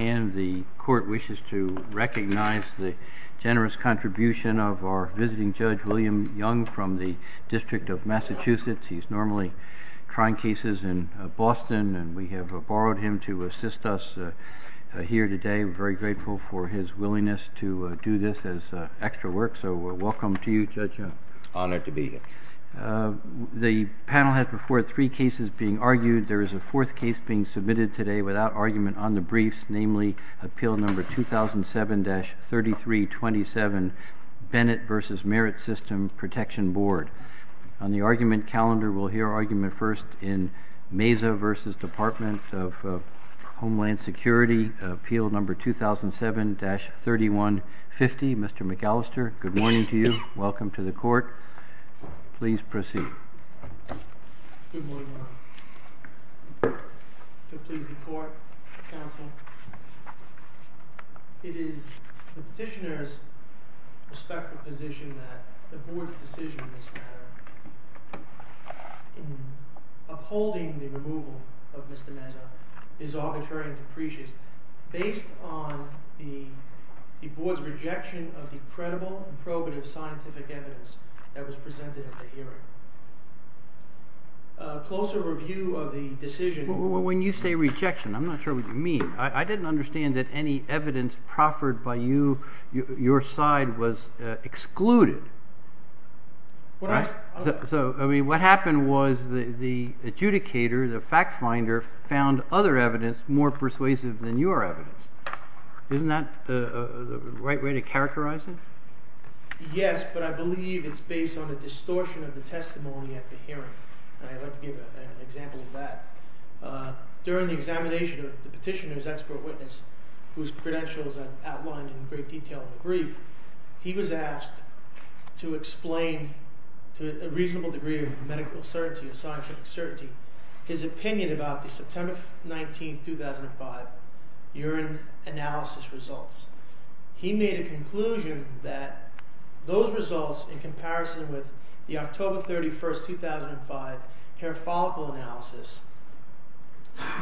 And the court wishes to recognize the generous contribution of our visiting Judge William Young from the District of Massachusetts. He's normally trying cases in Boston and we have borrowed him to assist us here today. We're very grateful for his willingness to do this as extra work, so welcome to you, Judge Young. Honored to be here. The panel has before three cases being argued. There is a fourth case being submitted today without argument on the briefs, namely Appeal No. 2007-3327, Bennett v. Merit System Protection Board. On the argument calendar, we'll hear argument first in Meza v. Department of Homeland Security, Appeal No. 2007-3150. Mr. McAllister, good morning to you. Welcome to the court. Please proceed. Good morning, Your Honor. To please the court, counsel, it is the petitioner's respectful position that the board's decision in this matter in upholding the removal of Mr. Meza is arbitrary and depreciate based on the board's rejection of the credible and probative scientific evidence that was presented at the hearing. A closer review of the decision... When you say rejection, I'm not sure what you mean. I didn't understand that any evidence proffered by you, your side, was excluded. What happened was the adjudicator, the fact finder, found other evidence more persuasive than your evidence. Isn't that the right way to characterize it? Yes, but I believe it's based on the distortion of the testimony at the hearing. I'd like to give an example of that. During the examination of the petitioner's expert witness, whose credentials I've outlined in great detail in the brief, he was asked to explain to a reasonable degree of medical certainty and scientific certainty his opinion about the that those results in comparison with the October 31st, 2005 hair follicle analysis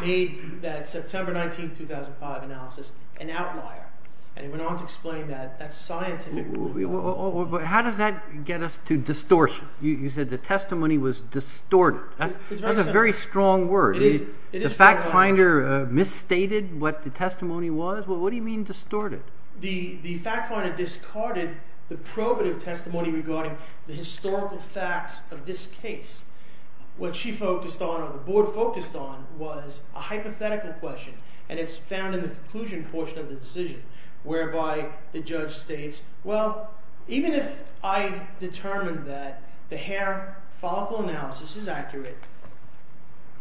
made that September 19th, 2005 analysis an outlier. And he went on to explain that scientific... How does that get us to distortion? You said the testimony was distorted. That's a very strong word. The fact finder misstated what the testimony was? What do you mean distorted? The fact finder discarded the probative testimony regarding the historical facts of this case. What she focused on or the board focused on was a hypothetical question, and it's found in the conclusion portion of the decision, whereby the judge states, well, even if I determined that the hair follicle analysis is accurate,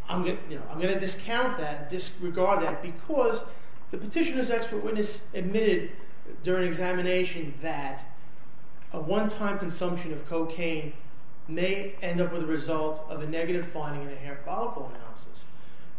I'm going to discount that, disregard that, because the petitioner's expert witness admitted during examination that a one-time consumption of cocaine may end up with a result of a negative finding in the hair follicle analysis.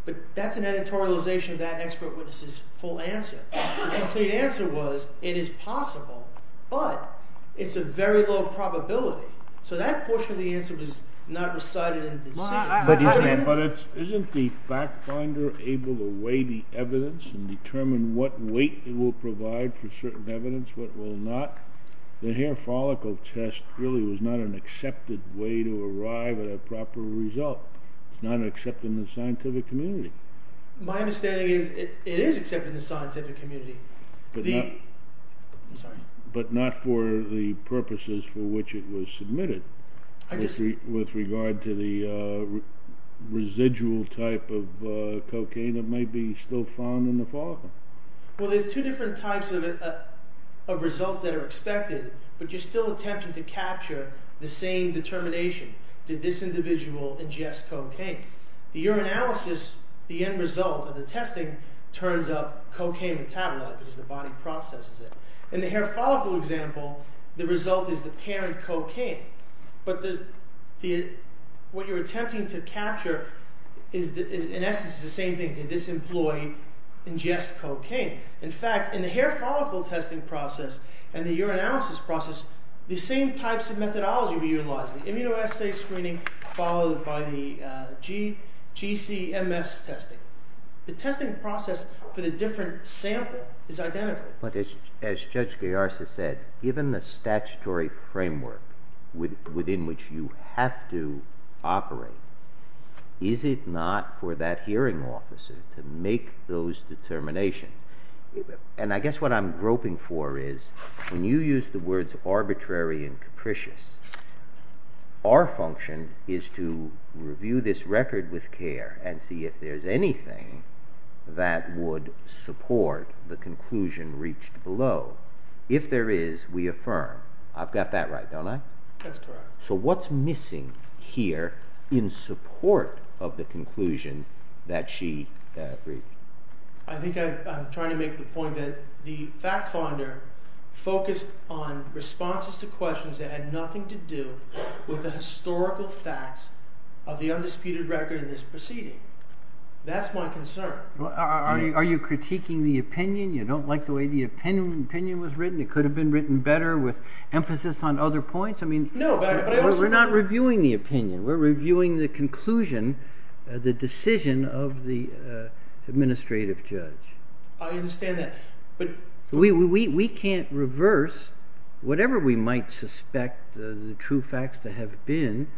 But that's an editorialization of that expert witness's full answer. The complete answer was it is possible, but it's a very low probability. So that portion of the answer was not recited in the decision. But isn't the fact finder able to weigh the evidence and determine what weight it will provide for certain evidence, what will not? The hair follicle test really was not an accepted way to arrive at a proper result. It's not accepted in the scientific community. My understanding is it is accepted in the scientific community. But not for the purposes for which it was submitted with regard to the residual type of cocaine that might be still found in the follicle. Well, there's two different types of results that are expected, but you're still attempting to capture the same determination. Did this individual ingest cocaine? The urinalysis, the end result of the testing, turns up cocaine metabolite because the body processes it. In the hair follicle example, the result is the parent cocaine. But what you're attempting to capture in essence is the same thing. Did this employee ingest cocaine? In fact, in the hair follicle testing process and the urinalysis process, the same types of methodology were tested. The testing process for the different sample is identical. But as Judge Gayarza said, given the statutory framework within which you have to operate, is it not for that hearing officer to make those determinations? And I guess what I'm groping for is when you use the words arbitrary and capricious, our function is to review this anything that would support the conclusion reached below. If there is, we affirm. I've got that right, don't I? That's correct. So what's missing here in support of the conclusion that she reached? I think I'm trying to make the point that the fact finder focused on responses to questions that had nothing to do with the historical facts of the undisputed record in this proceeding. That's my concern. Are you critiquing the opinion? You don't like the way the opinion was written? It could have been written better with emphasis on other points? I mean, we're not reviewing the opinion. We're reviewing the conclusion, the decision of the administrative judge. I understand that. We can't reverse whatever we might suspect the true facts to have been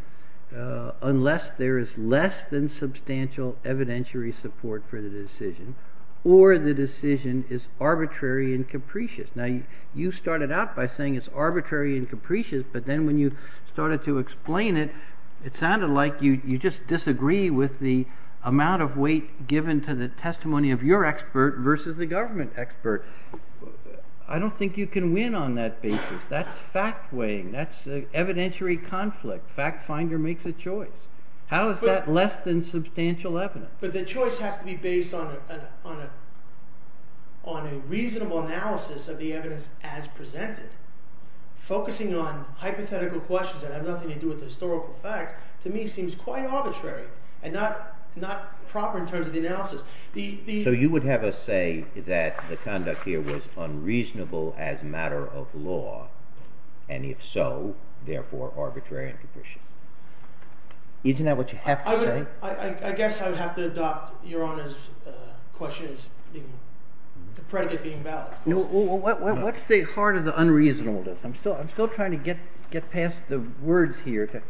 unless there is less than substantial evidentiary support for the decision or the decision is arbitrary and capricious. Now, you started out by saying it's arbitrary and capricious, but then when you started to explain it, it sounded like you just disagree with the amount of weight given to the testimony of your expert versus the government expert. I don't think you can win on that basis. That's fact weighing. That's evidentiary conflict. Fact finder makes a choice. How is that less than substantial evidence? But the choice has to be based on a reasonable analysis of the evidence as presented. Focusing on hypothetical questions that have nothing to do with the historical facts, to me, seems quite arbitrary and not proper in terms of the analysis. You would have us say that the conduct here was unreasonable as a matter of law, and if so, therefore, arbitrary and capricious. Isn't that what you have to say? I guess I would have to adopt Your Honor's question as the predicate being valid. What's the heart of the unreasonableness? I'm still trying to get past the words here.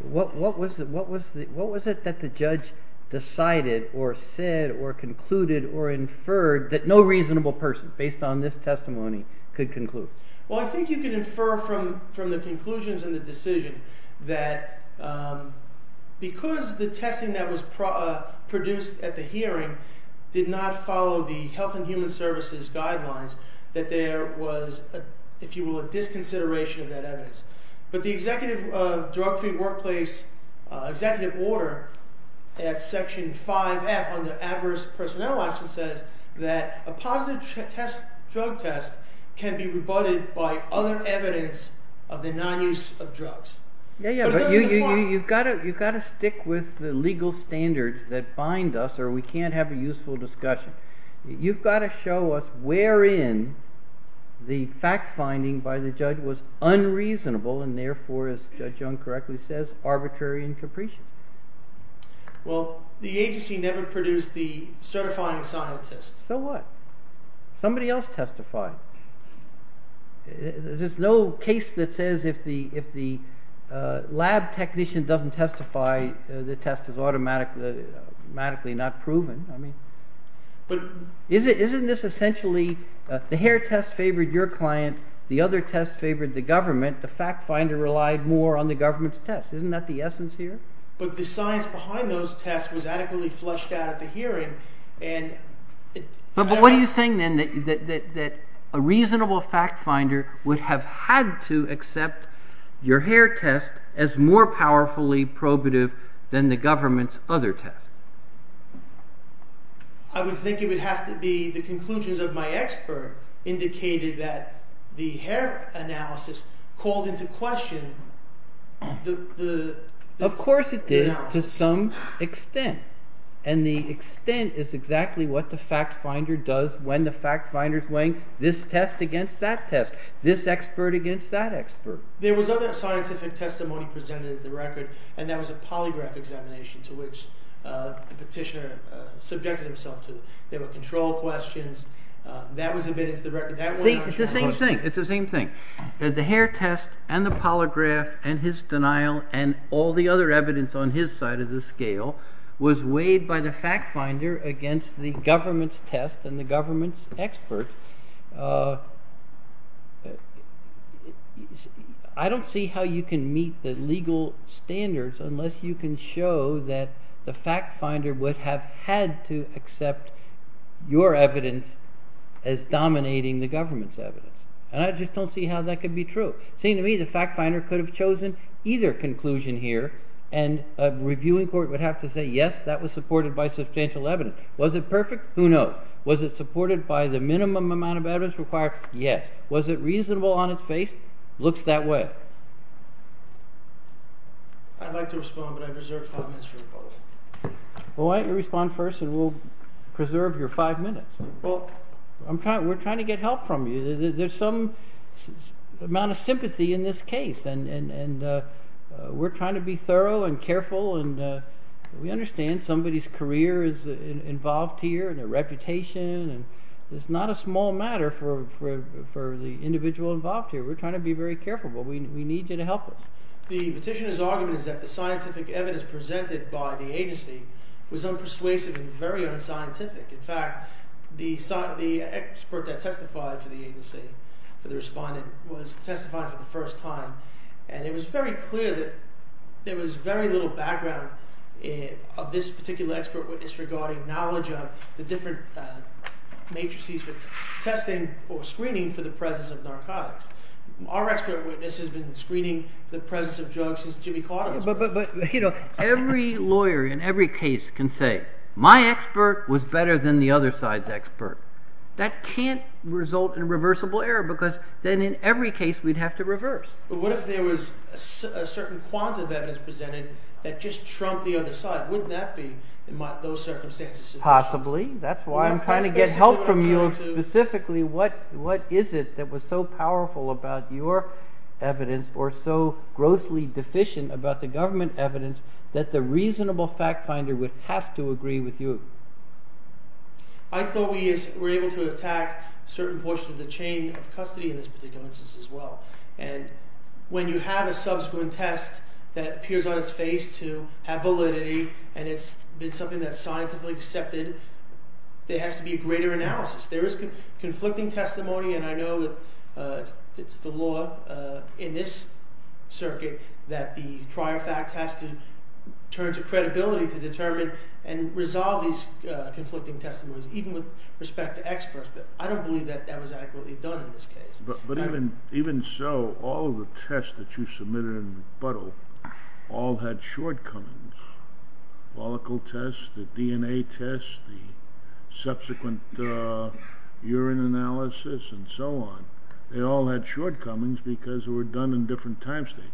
What was it that the judge decided or said or concluded or inferred that no reasonable person, based on this testimony, could conclude? Well, I think you can infer from the conclusions in the decision that because the testing that was produced at the hearing did not follow the Health and Human Services guidelines, that there was, if you will, a disconsideration of that evidence. But the executive drug-free workplace executive order at Section 5F under adverse personnel action says that a positive drug test can be rebutted by other evidence of the non-use of drugs. Yeah, yeah, but you've got to stick with the legal standards that bind us or we can't have a useful discussion. You've got to show us where in the fact-finding by the judge was unreasonable and therefore, as Judge Young correctly says, arbitrary and capricious. Well, the agency never produced the certifying scientist. So what? Somebody else testified. There's no case that says if the lab technician doesn't testify, the test is automatically not proven. I mean, isn't this essentially the hair test favored your client, the other test favored the government, the fact-finder relied more on the government's test? Isn't that the essence here? But the science behind those tests was adequately flushed out at the hearing and... But what are you saying then that a reasonable fact-finder would have had to accept your hair test as more powerfully probative than the government's other test? I would think it would have to be the conclusions of my expert indicated that the hair analysis called into question the... Of course it did, to some extent. And the extent is exactly what the fact-finder does when the fact-finder is weighing this test against that test, this expert against that expert. There was other scientific testimony presented at the record, and that was a polygraph examination to which the petitioner subjected himself to. There were control questions. That was admitted to the record. It's the same thing. The hair test and the polygraph and his denial and all the other evidence on his side of the scale was weighed by the fact-finder against the government's test and the government's expert. I don't see how you can meet the legal standards unless you can show that the fact-finder would have had to accept your evidence as dominating the government's evidence. And I just don't see how that could be true. It seems to me fact-finder could have chosen either conclusion here, and a reviewing court would have to say, yes, that was supported by substantial evidence. Was it perfect? Who knows? Was it supported by the minimum amount of evidence required? Yes. Was it reasonable on its face? Looks that way. I'd like to respond, but I've reserved five minutes for the public. Well, why don't you respond first, and we'll preserve your five minutes. Well, we're trying to get help from you. There's some amount of sympathy in this case, and we're trying to be thorough and careful. And we understand somebody's career is involved here and their reputation, and it's not a small matter for the individual involved here. We're trying to be very careful, but we need you to help us. The petitioner's argument is that the scientific expert that testified for the agency, for the respondent, was testifying for the first time. And it was very clear that there was very little background of this particular expert witness regarding knowledge of the different matrices for testing or screening for the presence of narcotics. Our expert witness has been screening the presence of drugs since Jimmy Carter was president. But every lawyer in every case can say, my expert was better than the other expert. That can't result in a reversible error, because then in every case we'd have to reverse. But what if there was a certain quantity of evidence presented that just trumped the other side? Wouldn't that be, in those circumstances, sufficient? Possibly. That's why I'm trying to get help from you specifically. What is it that was so powerful about your evidence or so grossly deficient about the government evidence that the reasonable fact finder would have to agree with you? I thought we were able to attack certain portions of the chain of custody in this particular instance as well. And when you have a subsequent test that appears on its face to have validity, and it's been something that's scientifically accepted, there has to be a greater analysis. There is conflicting testimony, and I know that it's the law in this circuit that the prior fact turns to credibility to determine and resolve these conflicting testimonies, even with respect to experts. But I don't believe that that was adequately done in this case. But even so, all of the tests that you submitted in rebuttal all had shortcomings. Molecule tests, the DNA tests, the subsequent urine analysis, and so on. They all had shortcomings because they were done in different time stages.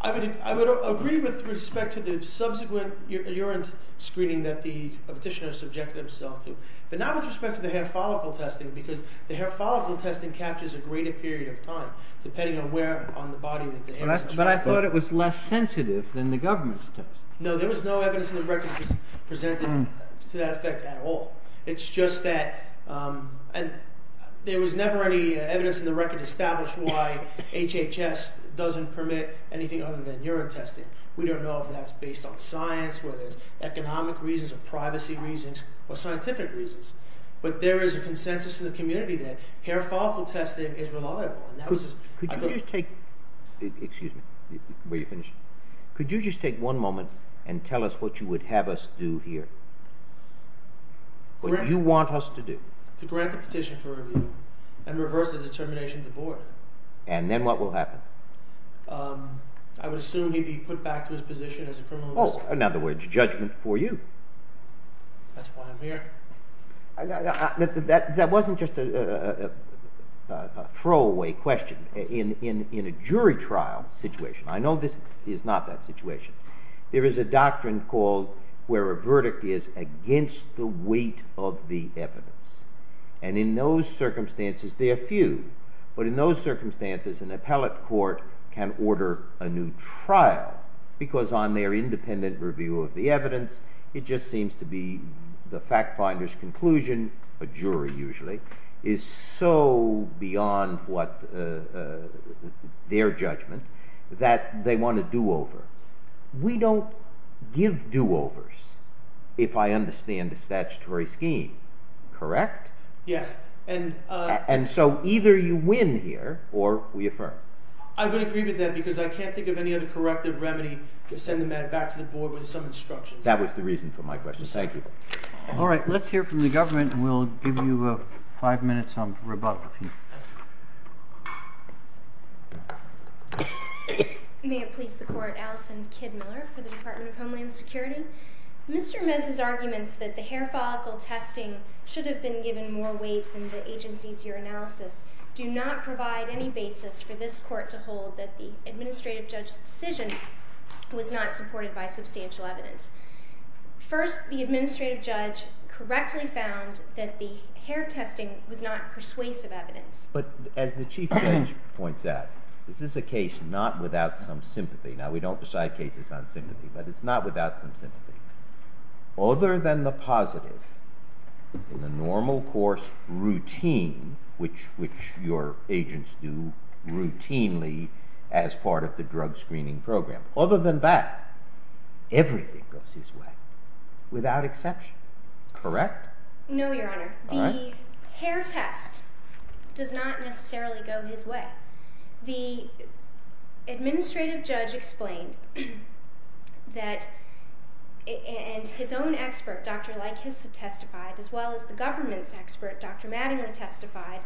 I would agree with respect to the subsequent urine screening that the petitioner subjected himself to. But not with respect to the hair follicle testing, because the hair follicle testing captures a greater period of time, depending on where on the body the hair is. But I thought it was less sensitive than the government's test. No, there was no evidence in the record presented to that effect at all. It's just that and there was never any evidence in the record established why HHS doesn't permit anything other than urine testing. We don't know if that's based on science, whether it's economic reasons or privacy reasons or scientific reasons. But there is a consensus in the community that hair follicle testing is reliable. Could you just take one moment and tell us what you would have us do here? What do you want us to do? To grant the petition for review and reverse the determination of the board. And then what will happen? I would assume he'd be put back to his position as a criminal. Oh, in other words, judgment for you. That's why I'm here. That wasn't just a throwaway question in a jury trial situation. I know this is not that where a verdict is against the weight of the evidence. And in those circumstances, they are few. But in those circumstances, an appellate court can order a new trial because on their independent review of the evidence, it just seems to be the fact finder's conclusion. A jury usually is so beyond what their judgment that they want to do over. We don't give do overs. If I understand the statutory scheme, correct? Yes. And. And so either you win here or we affirm. I would agree with that because I can't think of any other corrective remedy to send them back to the board with some instructions. That was the reason for my question. Thank you. All right. Let's hear from the government. We'll give you five minutes on rebuttal. Okay. May it please the court. Allison Kid Miller for the Department of Homeland Security. Mr. Mez's arguments that the hair follicle testing should have been given more weight than the agency's year analysis do not provide any basis for this court to hold that the administrative judge's decision was not supported by substantial evidence. First, the administrative judge correctly found that the hair testing was not persuasive evidence, but as the chief judge points out, this is a case not without some sympathy. Now we don't decide cases on sympathy, but it's not without some sympathy other than the positive in the normal course routine, which, which your agents do routinely as part of the drug screening program. Other than that, everything goes his way without exception. Correct? No, your honor. The hair test does not necessarily go his way. The administrative judge explained that and his own expert, Dr. Lykes, testified as well as the government's expert, Dr. Mattingly, testified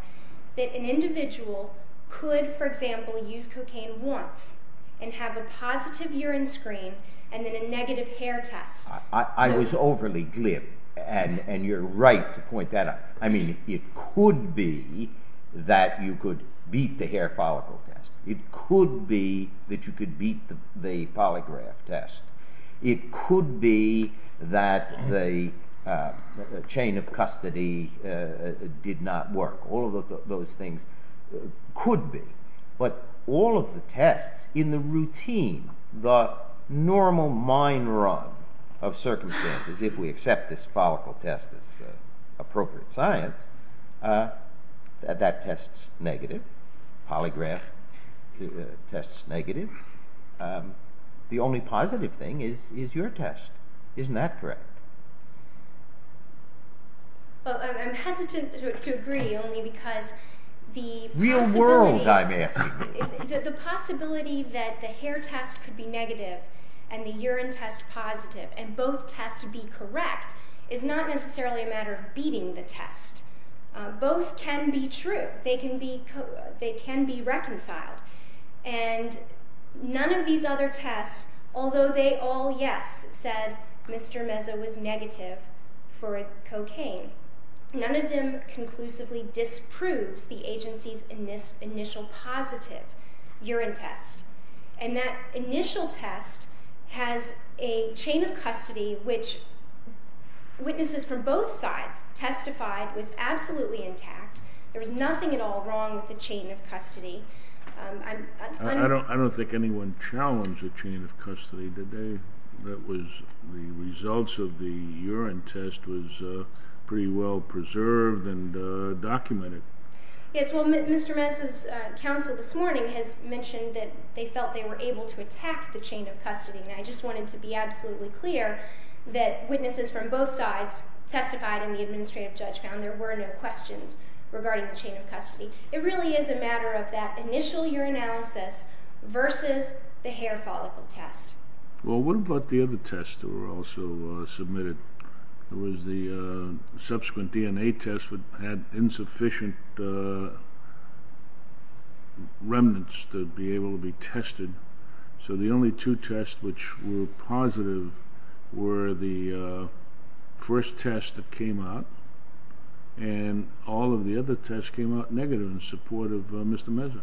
that an individual could, for example, use cocaine once and have a positive urine screen and then a negative hair test. I was overly glib and you're right to point that out. I mean, it could be that you could beat the hair follicle test. It could be that you could beat the polygraph test. It could be that the chain of custody did not work. All of those things could be, but all of the tests in the routine, the normal mind run of circumstances, if we accept this follicle test as appropriate science, that tests negative polygraph tests negative. The only positive thing is, is your test. Isn't that correct? I'm hesitant to agree only because the possibility that the hair test could be negative and the urine test positive and both tests would be correct is not necessarily a matter of beating the test. Both can be true. They can be, they can be reconciled and none of these other tests, although they all, yes, said Mr. Meza was negative for cocaine. None of them conclusively disproves the agency's initial positive urine test. And that initial test has a chain of custody, which witnesses from both sides testified was absolutely intact. There was nothing at all with the chain of custody. I don't, I don't think anyone challenged the chain of custody today. That was the results of the urine test was a pretty well preserved and documented. Yes. Well, Mr. Meza's counsel this morning has mentioned that they felt they were able to attack the chain of custody. And I just wanted to be absolutely clear that witnesses from both sides testified in the administrative judge found there were no questions regarding the chain of custody. It really is a matter of that initial urinalysis versus the hair follicle test. Well, what about the other tests that were also submitted? There was the subsequent DNA test would have insufficient remnants to be able to be tested. So the only two tests which were positive were the first test that came out and all of the other tests came out negative in support of Mr. Meza.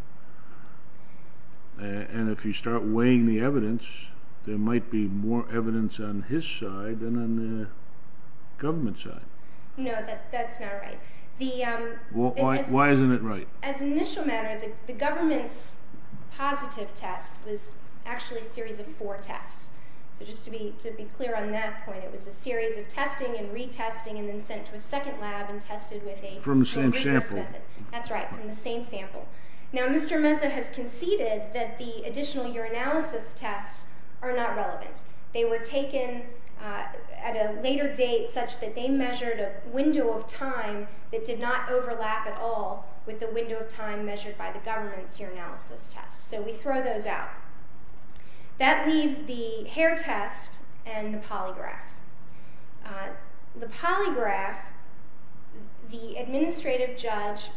And if you start weighing the evidence, there might be more evidence on his side than on the government side. No, that's not right. Why isn't it right? As an initial matter, the government's positive test was actually a series of four tests. So just to be to be clear on that point, it was a series of testing and retesting and then sent to a second lab and tested with a from some sample. That's right. From the same sample. Now, Mr. Meza has conceded that the additional urinalysis tests are not relevant. They were taken at a later date such that they measured a window of time that did not overlap at all with the window of time measured by the government's urinalysis test. So we throw those out. That leaves the hair test and the polygraph. The polygraph, the administrative judge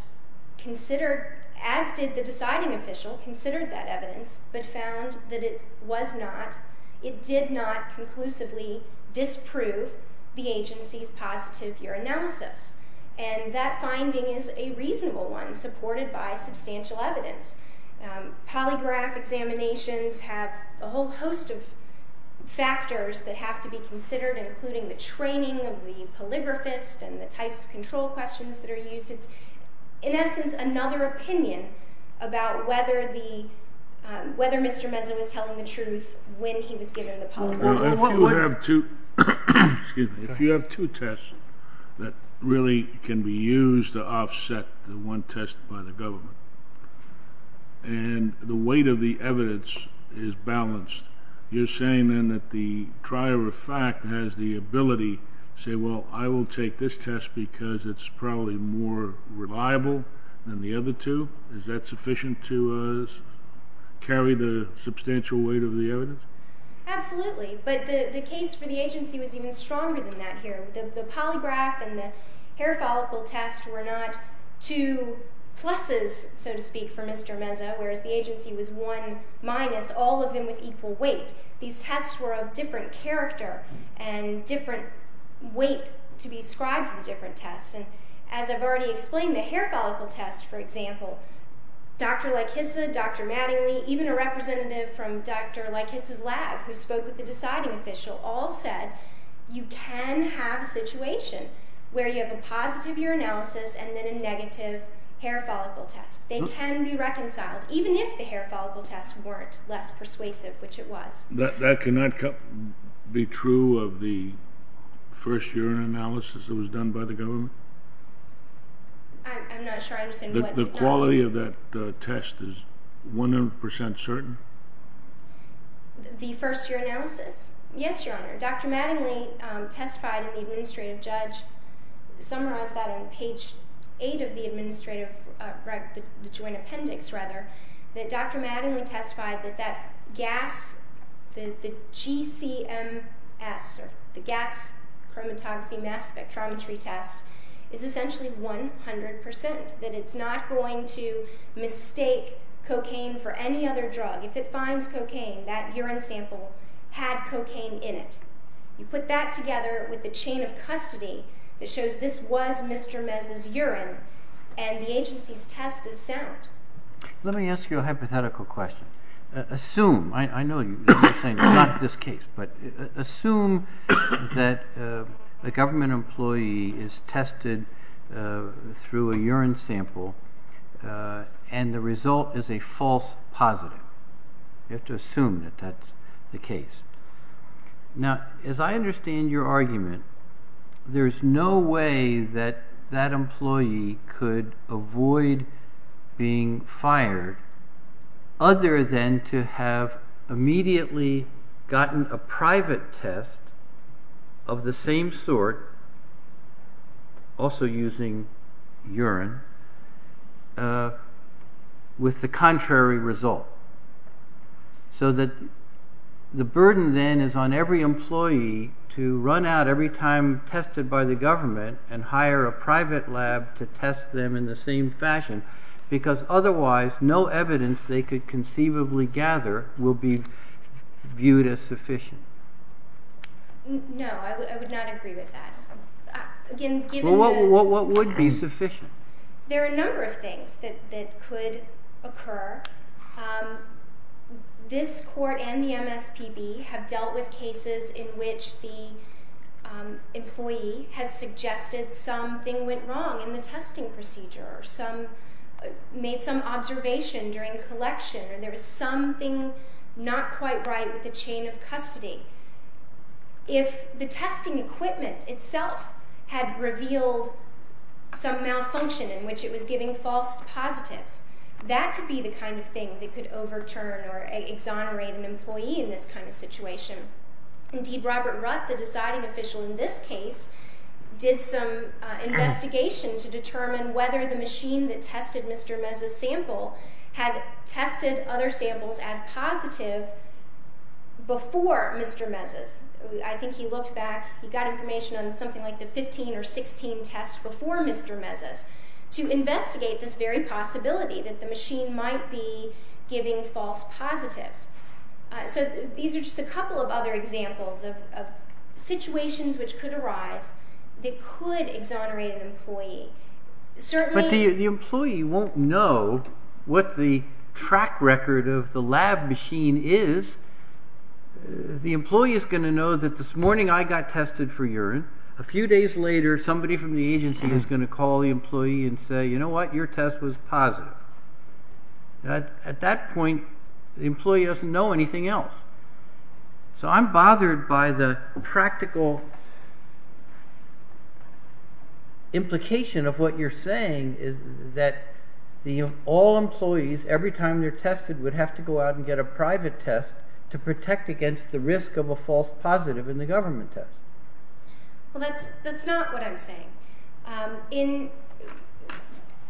considered, as did the deciding official, considered that evidence but found that it was not, it did not conclusively disprove the agency's positive urinalysis. And that finding is a reasonable one supported by substantial evidence. Polygraph examinations have a whole host of factors that have to be considered, including the training of the polygraphist and the types of control questions that are used. It's, in essence, another opinion about whether the, whether Mr. Meza was telling the truth when he was given a polygraph. If you have two, excuse me, if you have two tests that really can be used to offset the one test by the government and the weight of the evidence is balanced, you're saying then that the trier of fact has the ability to say, well, I will take this test because it's probably more reliable than the other two? Is that sufficient to carry the substantial weight of the evidence? Absolutely, but the case for the agency was even stronger than that here. The polygraph and the hair follicle test were not two pluses, so to speak, for Mr. Meza, whereas the agency was one minus all of them with equal weight. These tests were of different character and different weight to be ascribed to the different tests. And as I've already explained, the hair follicle test, for example, Dr. Laikisa, Dr. Mattingly, even a representative from Dr. Laikisa's lab who spoke with the deciding official all said you can have a situation where you have a positive urinalysis and then a negative hair follicle test. They can be reconciled, even if the hair follicle tests weren't less persuasive, which it was. That cannot be true of the first urinalysis that was done by the government? I'm not sure I understand. The quality of that test is 100 percent certain? The first urinalysis? Yes, Your Honor. Dr. Mattingly testified in the administrative judge, summarized that on page 8 of the administrative joint appendix, rather, that Dr. Mattingly testified that that gas, the GCMS, or the gas chromatography mass spectrometry test, is essentially 100 percent, that it's not going to mistake cocaine for any other drug. If you find cocaine, that urine sample had cocaine in it. You put that together with the chain of custody that shows this was Mr. Mez's urine and the agency's test is sound. Let me ask you a hypothetical question. Assume, I know you're saying not this case, but assume that a government employee is you have to assume that that's the case. Now, as I understand your argument, there's no way that that employee could avoid being fired other than to have immediately gotten a private test of the same sort, also using urine, with the contrary result. So that the burden then is on every employee to run out every time tested by the government and hire a private lab to test them in the same fashion, because otherwise no evidence they could conceivably gather will be viewed as sufficient. No, I would not agree with that. Again, what would be sufficient? There are a number of things that could occur. This court and the MSPB have dealt with cases in which the employee has suggested something went wrong in the testing procedure, or made some observation during collection, or there was something not quite right with the chain of custody. If the testing equipment itself had revealed some malfunction in which it was giving false positives, that could be the kind of thing that could overturn or exonerate an employee in this kind of situation. Indeed, Robert Rutt, the deciding official in this case, did some investigation to determine whether the machine that tested Mr. Meza's sample had tested other samples as positive before Mr. Meza's. I think he looked back, he got information on something like the 15 or 16 tests before Mr. Meza's, to investigate this very possibility that the machine might be giving false positives. So these are just a couple of other examples of situations which could arise that could exonerate an employee. But the employee won't know what the track record of the lab machine is. The employee is going to know that this morning I got tested for urine. A few days later, somebody from the agency is going to call the employee and say, you know what, your test was positive. At that point, the employee doesn't know anything else. So I'm bothered by the practical implication of what you're saying is that all employees, every time they're tested, would have to go out and get a private test to protect against the risk of a false positive in the government test. Well, that's not what I'm saying.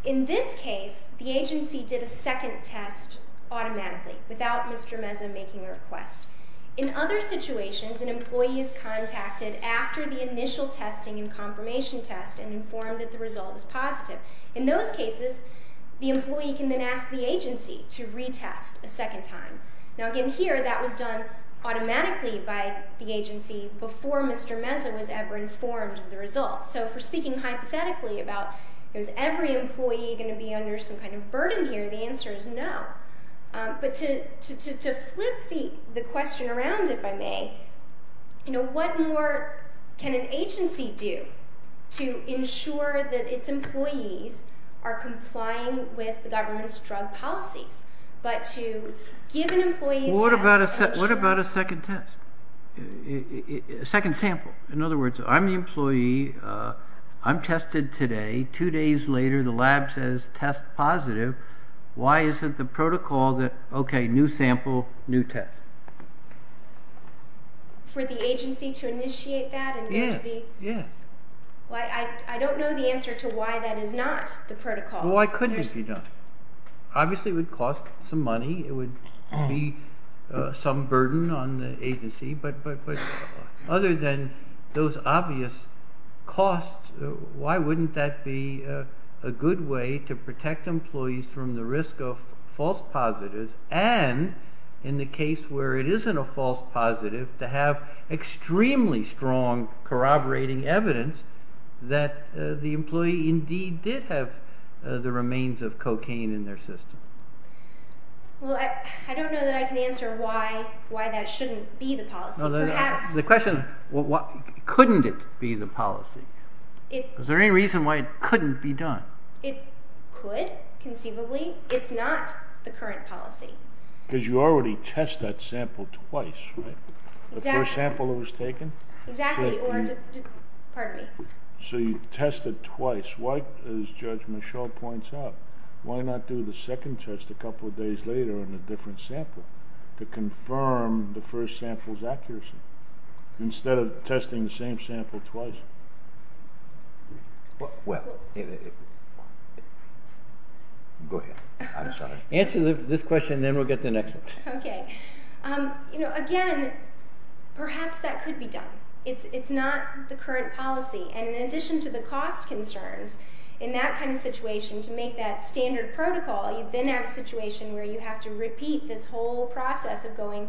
In this case, the agency did a second test automatically, without Mr. Meza making a request. In other situations, an employee is contacted after the initial testing and confirmation test and informed that the result is positive. In those cases, the employee can then ask the agency to retest a second time. Now, again, here that was done automatically by the agency before Mr. Meza was ever informed of the results. So if we're speaking hypothetically about, is every employee going to be under some kind of agency? What can an agency do to ensure that its employees are complying with the government's drug policies, but to give an employee a second test? What about a second test? A second sample? In other words, I'm the employee. I'm tested today. Two days later, the lab says test positive. Why isn't the protocol that, okay, new sample, new test? For the agency to initiate that? I don't know the answer to why that is not the protocol. Why couldn't it be done? Obviously, it would cost some money. It would be some burden on the agency, but other than those obvious costs, why wouldn't that be a good way to protect employees from the risk of false positives, and in the case where it isn't a false positive, to have extremely strong corroborating evidence that the employee indeed did have the remains of cocaine in their system? Well, I don't know that I can answer why that shouldn't be the policy. Perhaps... The question, couldn't it be the policy? Is there any reason why it couldn't be done? It could, conceivably. It's not the current policy. Because you already test that sample twice, right? The first sample that was taken? Exactly. Pardon me. So you test it twice. Why, as Judge Michel points out, why not do the second test a couple of days later on a different sample to confirm the first sample's accuracy, instead of testing the same sample twice? Well... Go ahead. I'm sorry. Answer this question, and then we'll get to the next one. Okay. Again, perhaps that could be done. It's not the current policy, and in addition to the cost concerns, in that kind of situation, to make that standard protocol, you then have a situation where you have to repeat this whole process of going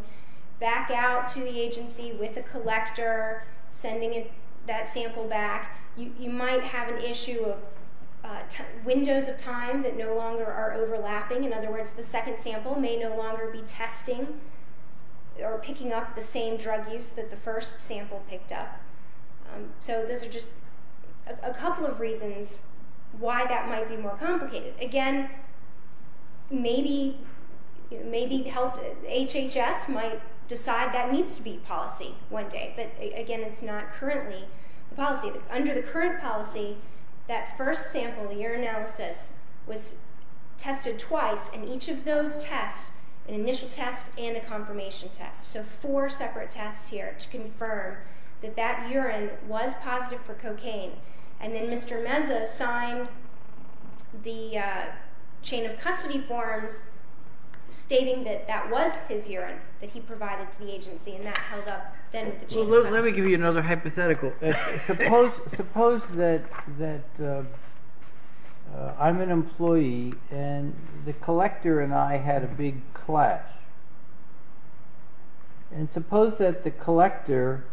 back out to the agency with a collector, sending that sample back. You might have an issue of windows of time that no longer are overlapping. In other words, the second sample may no longer be testing or picking up the same drug use that the first sample picked up. So those are just a couple of reasons why that might be more complicated. Again, maybe HHS might decide that needs to be policy one day, but again, it's not currently the policy. Under the current policy, that first sample, the urinalysis, was tested twice, and each of those tests, an initial test and a confirmation test, so four separate tests here to confirm that that urine was positive for cocaine, and then Mr. Meza signed the chain of custody forms stating that that was his urine that he provided to the agency, and that held up. Let me give you another hypothetical. Suppose that I'm an employee, and the collector and I had a big clash, and suppose that the collector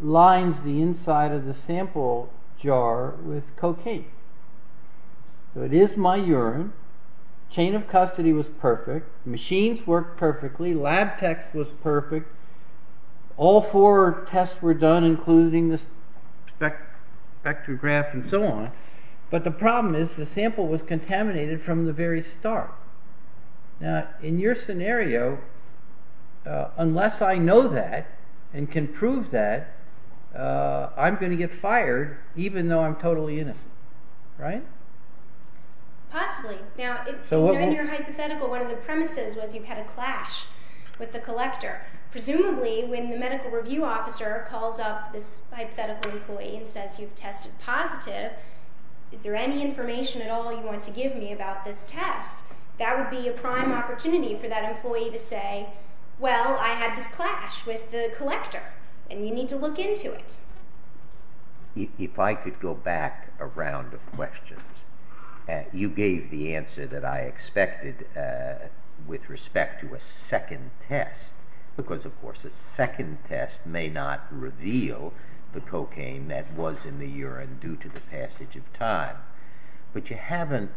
lines the inside of the sample jar with cocaine. So it is my urine, chain of custody was perfect, machines worked perfectly, lab tech was perfect, all four tests were done, including the spectrograph and so on, but the problem is the sample was contaminated from the very start. Now, in your scenario, unless I know that and can prove that, I'm going to get fired even though I'm totally innocent, right? Possibly. Now, in your hypothetical, one of the premises was you've had a clash with the collector. Presumably, when the medical review officer calls up this hypothetical employee and says, you've tested positive, is there any information at all you want to give me about this test? That would be a prime opportunity for that employee to say, well, I had this clash with the collector, and you need to look into it. If I could go back a round of questions. You gave the answer that I expected with respect to a second test, because of course a second test may not reveal the cocaine that was in the urine due to the passage of time, but you haven't,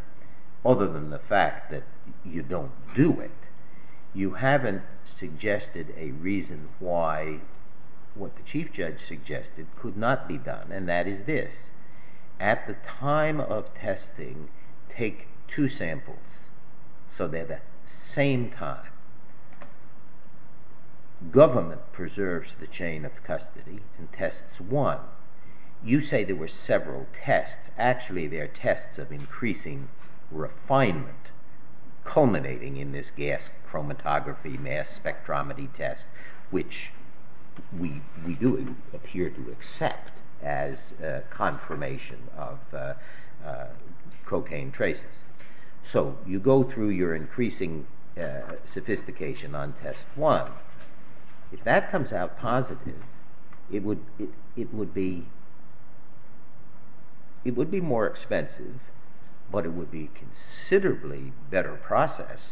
other than the fact that you don't do it, you haven't suggested a reason why what the chief judge suggested could not be done, and that is this. At the time of testing, take two samples so they're the same time. Government preserves the chain of custody and tests one. You say there were several tests. Actually, there are tests of increasing refinement culminating in this gas chromatography mass spectrometry test, which we do appear to accept as confirmation of you go through your increasing sophistication on test one. If that comes out positive, it would be more expensive, but it would be a considerably better process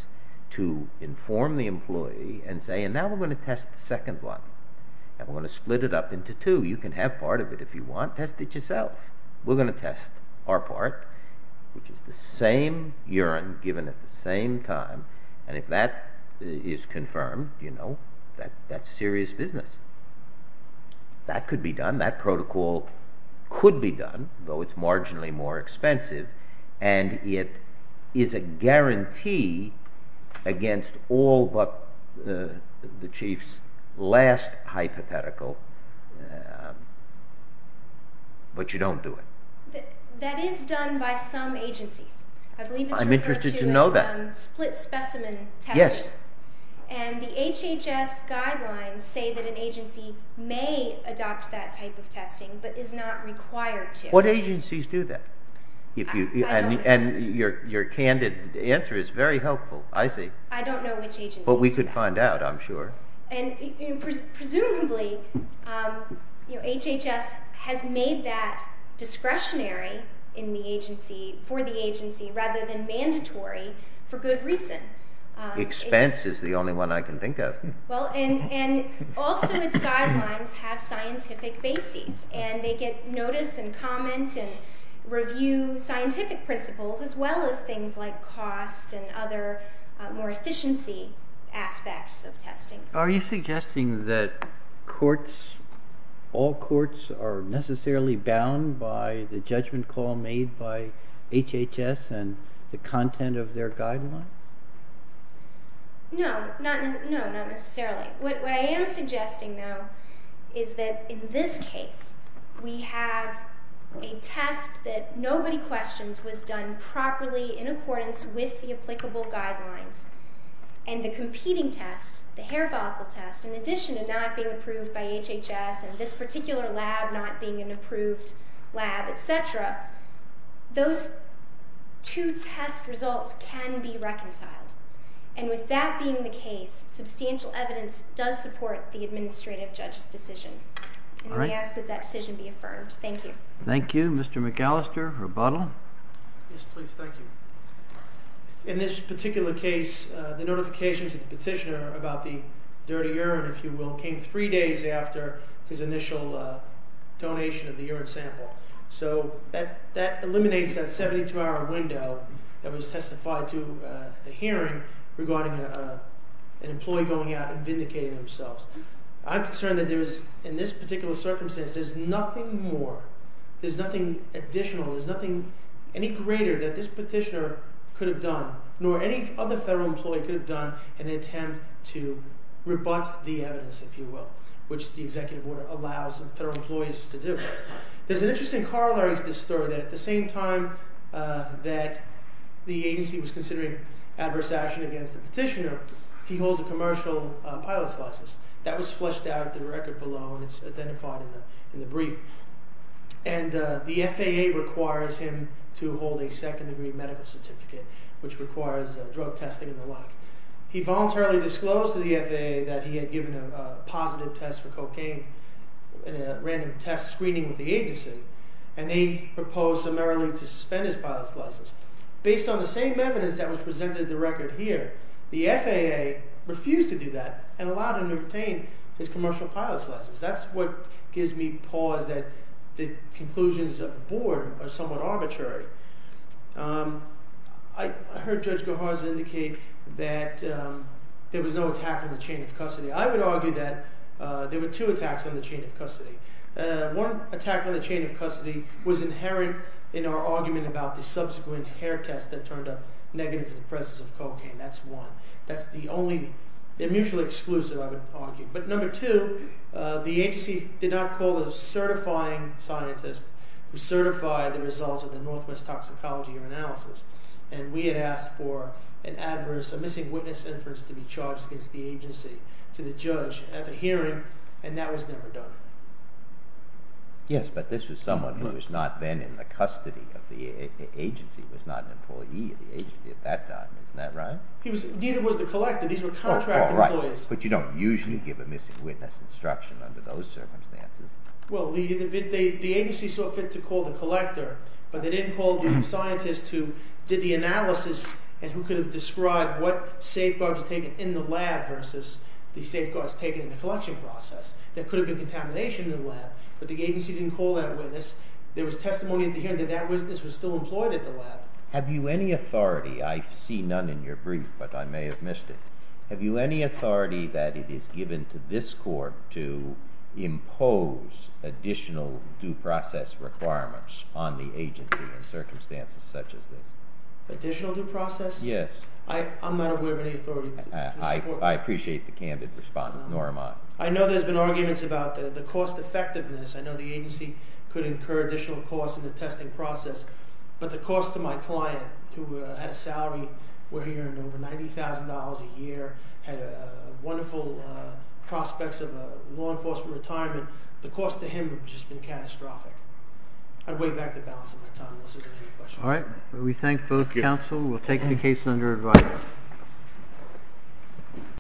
to inform the employee and say, and now we're going to test the second one, and we're going to split it up into two. You can have part of it if you want. Test it yourself. We're going to test our part, which is the same urine given at the same time, and if that is confirmed, that's serious business. That could be done. That protocol could be done, though it's marginally more expensive, and it is a guarantee against all but the chief's last hypothetical, but you don't do it. That is done by some agencies. I believe it's referred to as split specimen testing, and the HHS guidelines say that an agency may adopt that type of testing, but is not required to. What agencies do that? Your candid answer is very helpful. I don't know which agencies. We could find out, I'm sure. Presumably, HHS has made that discretionary for the agency rather than mandatory for good reason. Expense is the only one I can think of. Also, its guidelines have scientific bases, and they get notice and comment and review scientific principles as well as things like cost and other more efficiency aspects of testing. Are you suggesting that all courts are necessarily bound by the judgment call made by HHS and the content of their guidelines? No, not necessarily. What I am suggesting, though, is that in this case, we have a test that nobody questions was done properly in accordance with the applicable guidelines, and the competing test, the hair follicle test, in addition to not being approved by HHS and this particular lab not being an approved lab, etc., those two test results can be reconciled, and with that being the case, substantial evidence does support the administrative judge's decision, and we ask that that decision be affirmed. Thank you. Thank you. Mr. McAllister, rebuttal. Yes, please. Thank you. In this particular case, the notifications of the petitioner about the dirty urine, if you will, came three days after his initial donation of the urine sample, so that eliminates that 72-hour window that was testified to at the hearing regarding an employee going out and vindicating themselves. I'm concerned that there is, in this particular circumstance, there's nothing more, there's nothing additional, there's nothing any greater that this petitioner could have done, nor any other federal employee could have done, in an attempt to rebut the evidence, if you will, which the executive order allows federal employees to do. There's an interesting corollary to this story, that at the same time that the first action against the petitioner, he holds a commercial pilot's license that was flushed out at the record below, and it's identified in the brief, and the FAA requires him to hold a second-degree medical certificate, which requires drug testing and the like. He voluntarily disclosed to the FAA that he had given a positive test for cocaine in a random test screening with the agency, and they proposed summarily to suspend his pilot's license. Based on the same evidence that was presented at the record here, the FAA refused to do that and allowed him to obtain his commercial pilot's license. That's what gives me pause, that the conclusions of the board are somewhat arbitrary. I heard Judge Goharza indicate that there was no attack on the chain of custody. I would argue that there were two attacks on the chain of custody. One attack on the chain of custody was inherent in our argument about the subsequent hair test that turned up negative for the presence of cocaine. That's one. That's the only mutually exclusive, I would argue. But number two, the agency did not call a certifying scientist who certified the results of the Northwest Toxicology Analysis, and we had asked for an adverse, a missing witness inference to be charged against the agency to the judge at the hearing, and that was never done. Yes, but this was someone who was not then in the custody of the agency, was not an employee of the agency at that time. Isn't that right? He was, neither was the collector. These were contract employees. But you don't usually give a missing witness instruction under those circumstances. Well, the agency saw fit to call the collector, but they didn't call the scientist who did the analysis and who could have described what safeguards were taken in the lab versus the safeguards taken in the collection process. There could have been contamination in the lab, but the agency didn't call that witness. There was testimony at the hearing that that witness was still employed at the lab. Have you any authority, I see none in your brief, but I may have missed it. Have you any authority that it is given to this court to impose additional due process requirements on the agency in circumstances such as this? Additional due process? Yes. I'm not aware of any authority. I appreciate the candid response, nor am I. I know there's been arguments about the cost effectiveness. I know the agency could incur additional costs in the testing process, but the cost to my client who had a salary, we're hearing over $90,000 a year, had wonderful prospects of a law enforcement retirement, the cost to him would have just been catastrophic. I'd weigh back the balance of my time. We thank both counsel. We'll take the case under advise.